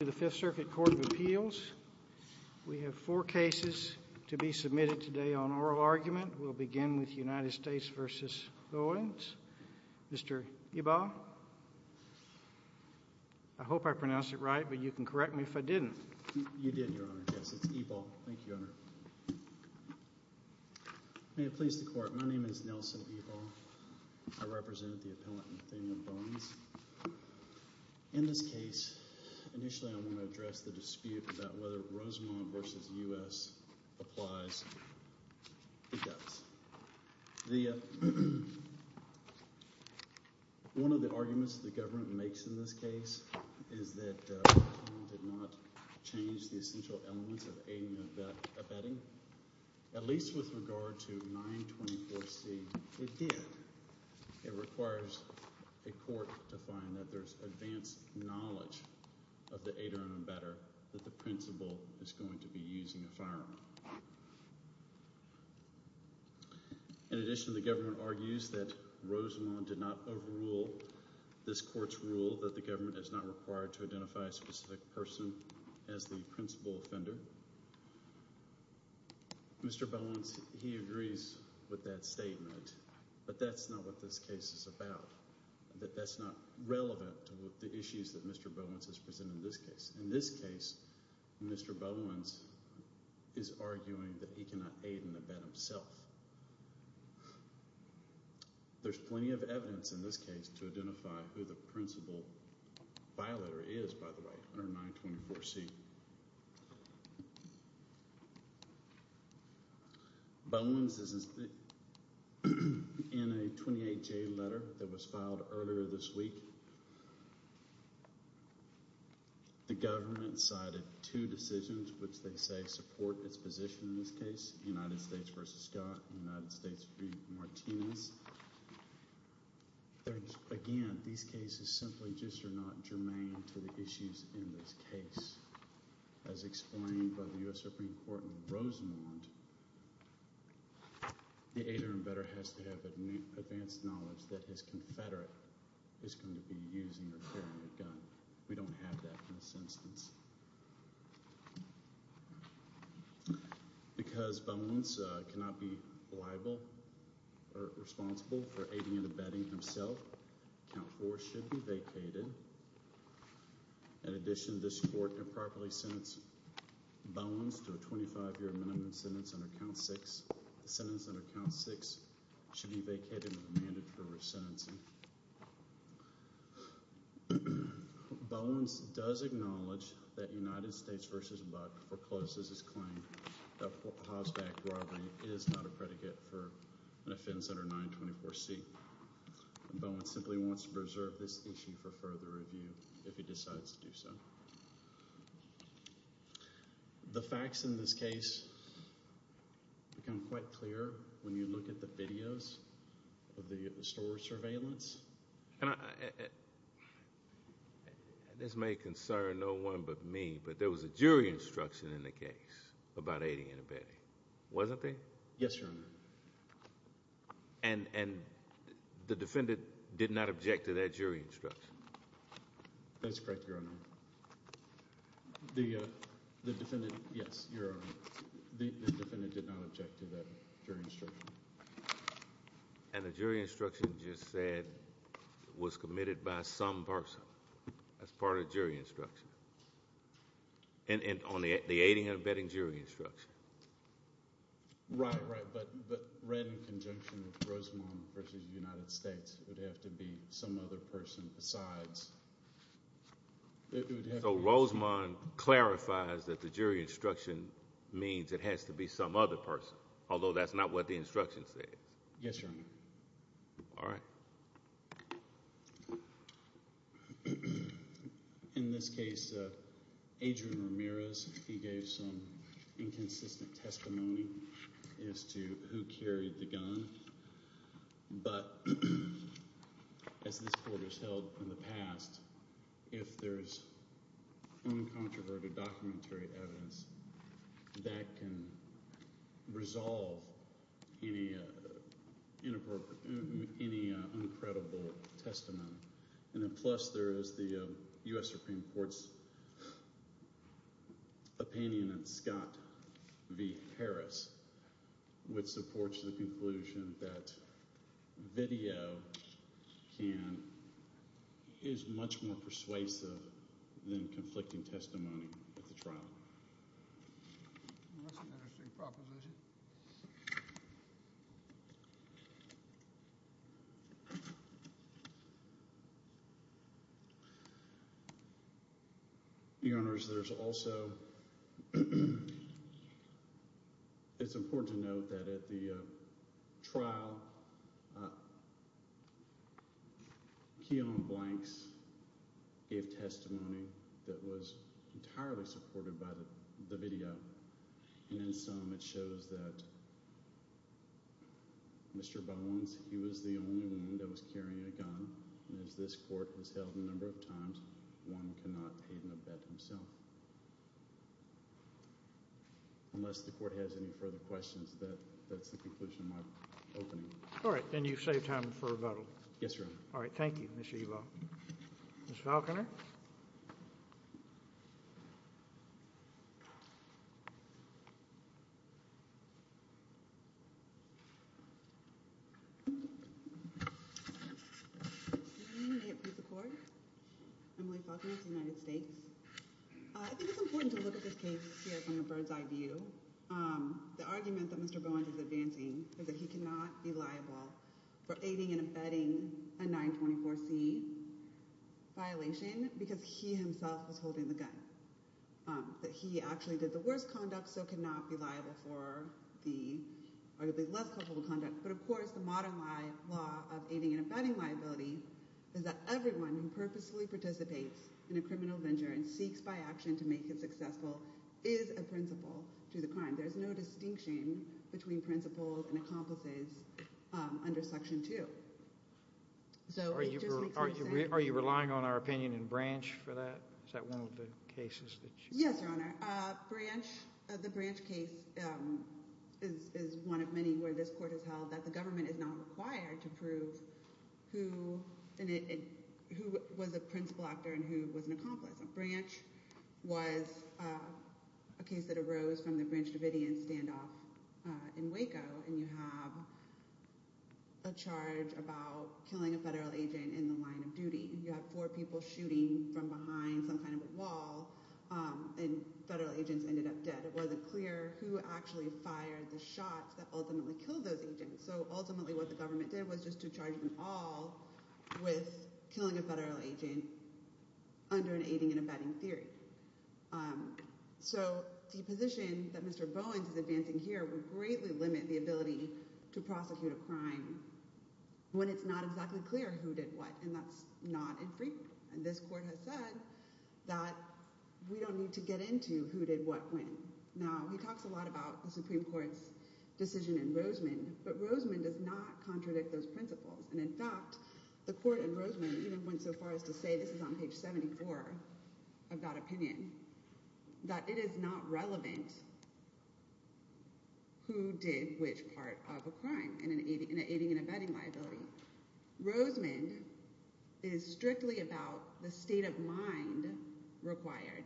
to the Fifth Circuit Court of Appeals. We have four cases to be submitted today on oral argument. We'll begin with United States v. Bowens. Mr. Ebal. I hope I pronounced it right, but you can correct me if I didn't. You did, Your Honor. Yes, it's Ebal. Thank you, Your Honor. May it please the Court, my name is Nelson Ebal. I represent the appellant, Nathaniel Bowens. In this case, initially I want to address the dispute about whether Rosemont v. U.S. applies. It does. One of the arguments the government makes in this case is that Rosemont did not change the essential elements of aiding and abetting, at least with regard to 924C. It did. It requires a court to find that there's advanced knowledge of the aider and abetter that the principal is going to be using a firearm. In addition, the government argues that Rosemont did not overrule this court's rule that the government is not required to identify a specific person as the principal offender. Mr. Bowens, he agrees with that statement, but that's not what this case is about. That's not relevant to the issues that Mr. Bowens has presented in this case. In this case, Mr. Bowens is arguing that he cannot aid and abet himself. There's plenty of evidence in this case to identify who the principal violator is, by the way, under 924C. Bowens is in a 28-J letter that was filed earlier this week. The government cited two decisions which they say support its position in this case, United States v. Scott and United States v. Martinez. Again, these cases simply just are not germane to the issues in this case. As explained by the U.S. Supreme Court in Rosemont, the aider and abetter has to have advanced knowledge that his confederate is going to be using or carrying a gun. We don't have that in this instance. Because Bowens cannot be liable or responsible for aiding and abetting himself, count 4 should be vacated. In addition, this court improperly sentenced Bowens to a 25-year minimum sentence under count 6. The sentence under count 6 should be vacated with a mandate for resentencing. Bowens does acknowledge that United States v. Buck forecloses his claim that houseback robbery is not a predicate for an offense under 924C. Bowens simply wants to preserve this issue for further review if he decides to do so. The facts in this case become quite clear when you look at the videos of the store surveillance. This may concern no one but me, but there was a jury instruction in the case about aiding and abetting, wasn't there? Yes, Your Honor. And the defendant did not object to that jury instruction? That's correct, Your Honor. The defendant, yes, Your Honor, the defendant did not object to that jury instruction. And the jury instruction just said was committed by some person as part of the jury instruction? And on the aiding and abetting jury instruction? Right, right, but read in conjunction with Rosemond v. United States. It would have to be some other person besides. So Rosemond clarifies that the jury instruction means it has to be some other person? Although that's not what the instruction says? Yes, Your Honor. All right. In this case, Adrian Ramirez, he gave some inconsistent testimony as to who carried the gun, but as this court has held in the past, if there's uncontroverted documentary evidence that can resolve any uncredible testimony, and then plus there is the U.S. Supreme Court's opinion in Scott v. Harris, which supports the conclusion that video is much more persuasive than conflicting testimony at the trial. That's an interesting proposition. Your Honors, there's also, it's important to note that at the trial, Keon Blanks gave testimony that was entirely supported by the video, and in some it shows that Mr. Bones, he was the only one that was carrying a gun, and as this court has held a number of times, one cannot aid and abet himself. Unless the court has any further questions, that's the conclusion of my opening. All right, then you've saved time for rebuttal. Yes, Your Honor. All right, thank you, Mr. Ewell. Ms. Falconer? Good evening. May it please the Court? Emily Falconer of the United States. I think it's important to look at this case here from a bird's eye view. The argument that Mr. Bones is advancing is that he cannot be liable for aiding and abetting a 924C violation because he himself was holding the gun. That he actually did the worst conduct, so cannot be liable for the arguably less comfortable conduct. But of course, the modern law of aiding and abetting liability is that everyone who purposefully participates in a criminal venture and seeks by action to make it successful is a principal to the crime. There's no distinction between principals and accomplices under Section 2. Are you relying on our opinion in Branch for that? Is that one of the cases that you... Yes, Your Honor. The Branch case is one of many where this court has held that the government is not required to prove who was a principal actor and who was an accomplice. Branch was a case that arose from the Branch Davidian standoff in Waco and you have a charge about killing a federal agent in the line of duty. You have four people shooting from behind some kind of a wall and federal agents ended up dead. It wasn't clear who actually fired the shots that ultimately killed those agents. So ultimately what the government did was just to charge them all with killing a federal agent under an aiding and abetting theory. So the position that Mr. Bowens is advancing here would greatly limit the ability to prosecute a crime when it's not exactly clear who did what and that's not infrequent. And this court has said that we don't need to get into who did what when. Now he talks a lot about the Supreme Court's decision in Roseman, but Roseman does not say, this is on page 74 of that opinion, that it is not relevant who did which part of a crime in an aiding and abetting liability. Roseman is strictly about the state of mind required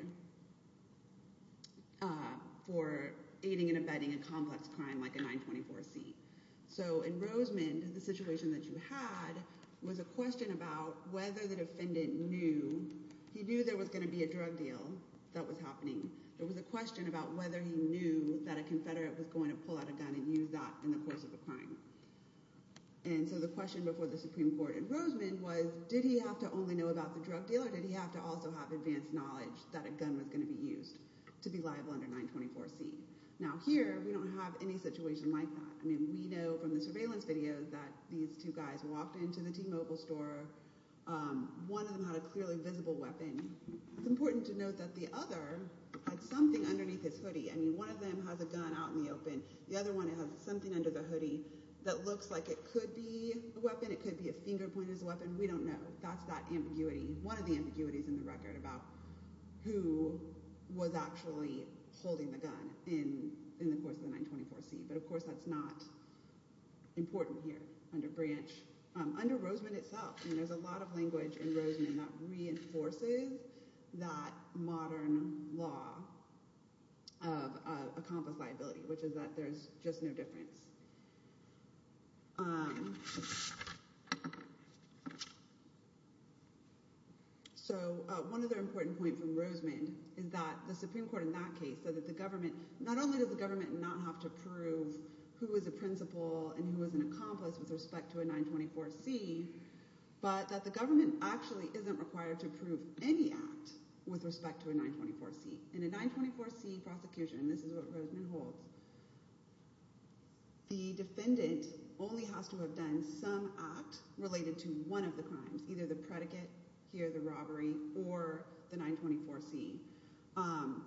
for aiding and abetting a complex crime like a 924C. So in Roseman, the situation that you had was a question about whether the defendant knew, he knew there was going to be a drug deal that was happening. There was a question about whether he knew that a confederate was going to pull out a gun and use that in the course of a crime. And so the question before the Supreme Court in Roseman was, did he have to only know about the drug deal or did he have to also have advanced knowledge that a gun was going to be used to be liable under 924C? Now here, we don't have any situation like that. We know from the surveillance video that these two guys walked into the T-Mobile store. One of them had a clearly visible weapon. It's important to note that the other had something underneath his hoodie. One of them has a gun out in the open. The other one has something under the hoodie that looks like it could be a weapon. It could be a finger pointed as a weapon. We don't know. That's that ambiguity. One of the ambiguities in the record about who was actually holding the gun in the course of the 924C. But of course, that's not important here under Branch. Under Roseman itself, there's a lot of language in Roseman that reinforces that modern law of accomplice liability, which is that there's just no difference. So one other important point from Roseman is that the Supreme Court in that case said that not only does the government not have to prove who is a principal and who is an accomplice with respect to a 924C, but that the government actually isn't required to prove any act with respect to a 924C. In a 924C prosecution, this is what Roseman holds, the defendant only has to have done some act related to one of the crimes, either the predicate, here the robbery, or the 924C.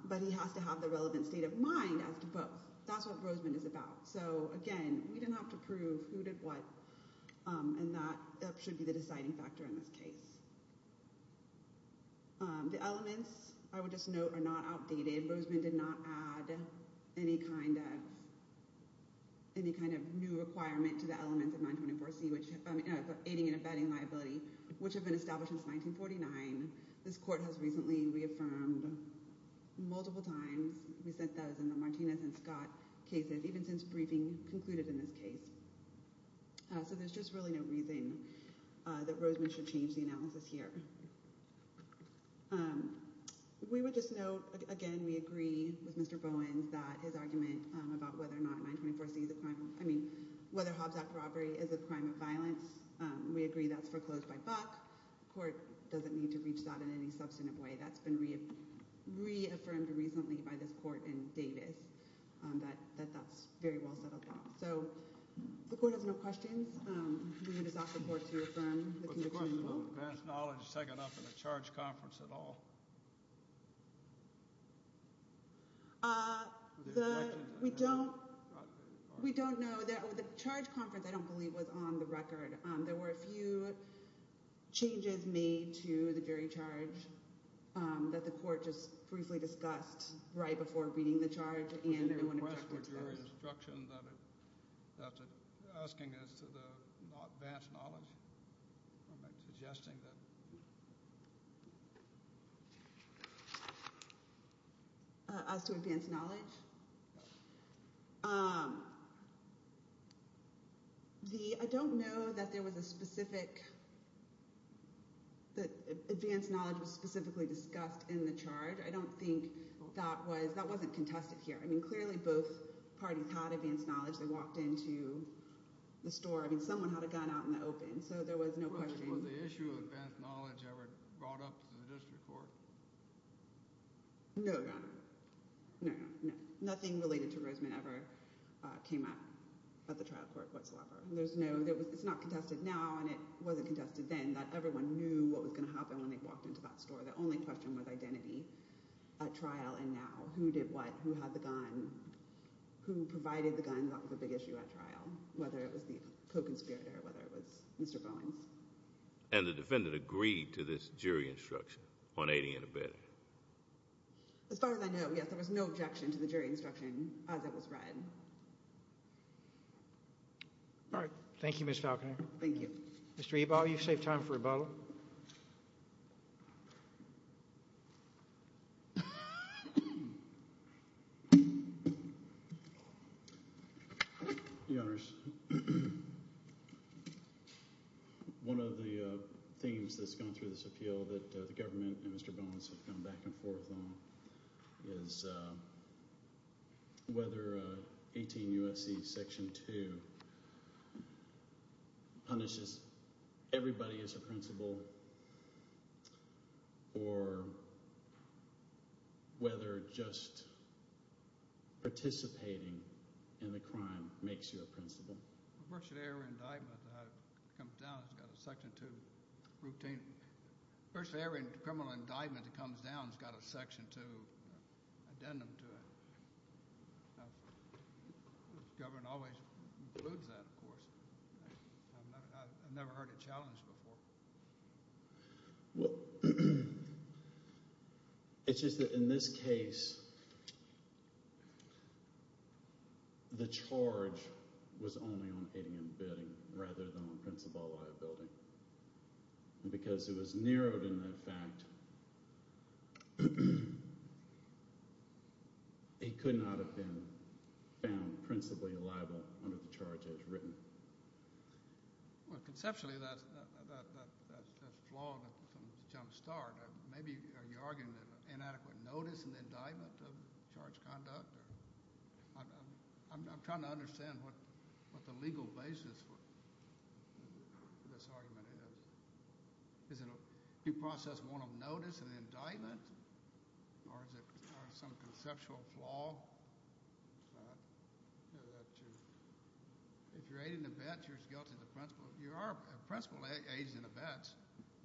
But he has to have the relevant state of mind as to both. That's what Roseman is about. So again, we didn't have to prove who did what, and that should be the deciding factor in this case. The elements, I would just note, are not outdated. Roseman did not add any kind of new requirement to the elements of 924C, aiding and abetting liability, which have been established since 1949. This court has recently reaffirmed multiple times, we said that as in the Martinez and Scott cases, even since briefing concluded in this case. So there's just really no reason that Roseman should change the analysis here. We would just note, again, we agree with Mr. Bowens that his argument about whether or not 924C is a crime, I mean, whether Hobbs Act robbery is a crime of violence, we agree that's foreclosed by Buck. The court doesn't need to reach that in any substantive way. That's been reaffirmed recently by this court in Davis, that that's very well set up now. So the court has no questions. We would just ask the court to affirm the conviction as well. Was the question on advance knowledge taken up in the charge conference at all? We don't know. The charge conference, I don't believe, was on the record. There were a few changes made to the jury charge that the court just briefly discussed right before reading the charge, and no one objected to those. Was there a request for jury instruction that's asking as to the advance knowledge? Suggesting that? As to advance knowledge? I don't know that there was a specific, that advance knowledge was specifically discussed in the charge. I don't think that was, that wasn't contested here. I mean, clearly both parties had advance knowledge. They walked into the store. I mean, someone had a gun out in the open, so there was no question. Was the issue of advance knowledge ever brought up to the district court? No, Your Honor. No, Your Honor. Nothing related to Rosemond ever came up at the trial court whatsoever. There's no, it's not contested now, and it wasn't contested then that everyone knew what was going to happen when they walked into that store. The only question was identity at trial and now. Who did what? Who had the gun? Who provided the gun? That was a big issue at trial. Whether it was the co-conspirator, whether it was Mr. Bowens. And the defendant agreed to this jury instruction on aiding and abetting? As far as I know, yes. There was no objection to the jury instruction as it was read. All right. Thank you, Ms. Falconer. Thank you. Mr. Ebal, you've saved time for rebuttal. Your Honors. My question back and forth on is whether 18 U.S.C. Section 2 punishes everybody as a principal or whether just participating in the crime makes you a principal? A first-degree error indictment comes down, it's got a Section 2 routine. A first-degree error criminal indictment that comes down has got a Section 2 addendum to it. The government always includes that, of course. I've never heard it challenged before. Well, it's just that in this case, the charge was only on aiding and abetting rather than on principal liability. And because it was narrowed in that fact, it could not have been found principally liable under the charge as written. Well, conceptually, that's flawed from the jumpstart. Maybe you're arguing that inadequate notice in the indictment of charge conduct? I'm trying to understand what the legal basis for this argument is. Is it a due process warrant of notice in the indictment? Or is it some conceptual flaw? If you're aiding and abetting, you're guilty of the principal. You are a principal aiding and abetting.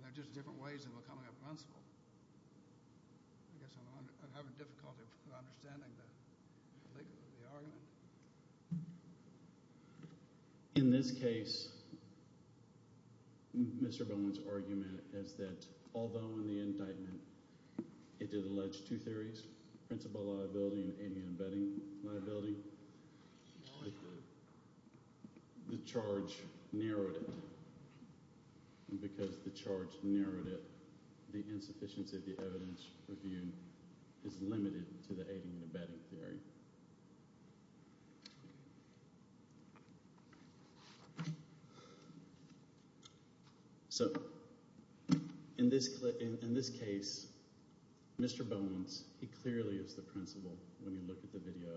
They're just different ways of becoming a principal. I guess I'm having difficulty understanding the argument. In this case, Mr. Bowen's argument is that although in the indictment it did allege two theories, principal liability and aiding and abetting liability, the charge narrowed it. And because the charge narrowed it, the insufficiency of the evidence reviewed is limited to the aiding and abetting theory. So, in this case, Mr. Bowen's, he clearly is the principal. When you look at the video,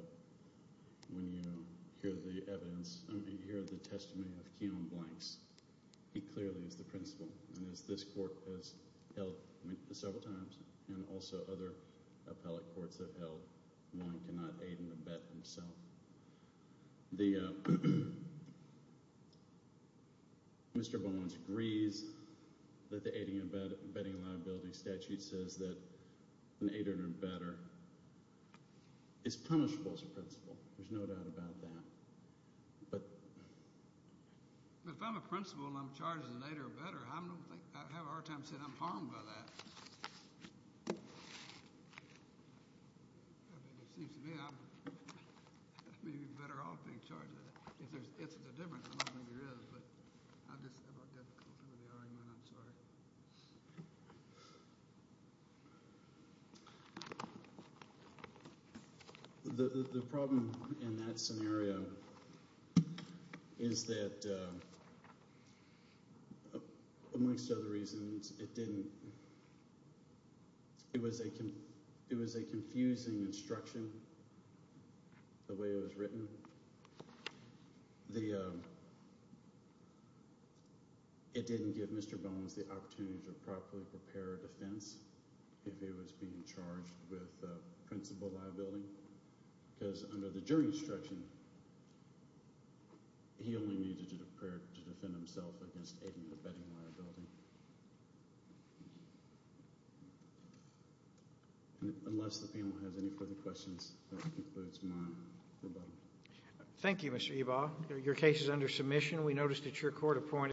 when you hear the evidence, when you hear the testimony of Keon Blanks, he clearly is the principal. And as this court has held several times, and also other appellate courts have held, one cannot aid and abet himself. Mr. Bowen agrees that the aiding and abetting liability statute says that an aider and abetter is punishable as a principal. There's no doubt about that. But... If I'm a principal and I'm charged as an aider and abetter, I don't think, I have a hard time saying I'm harmed by that. It seems to me I'm better off being charged with it. If there's a difference, I don't think there is. But I just have a difficulty with the argument. I'm sorry. Thank you. The problem in that scenario is that, amongst other reasons, it didn't... It was a confusing instruction, the way it was written. The... It didn't give Mr. Bowen the opportunity to properly prepare a defense if he was being charged with principal liability. Because under the jury instruction, he only needed to prepare to defend himself against aiding and abetting liability. Unless the panel has any further questions, that concludes my rebuttal. Thank you, Mr. Ebaugh. Your case is under submission. We noticed that your court appointed...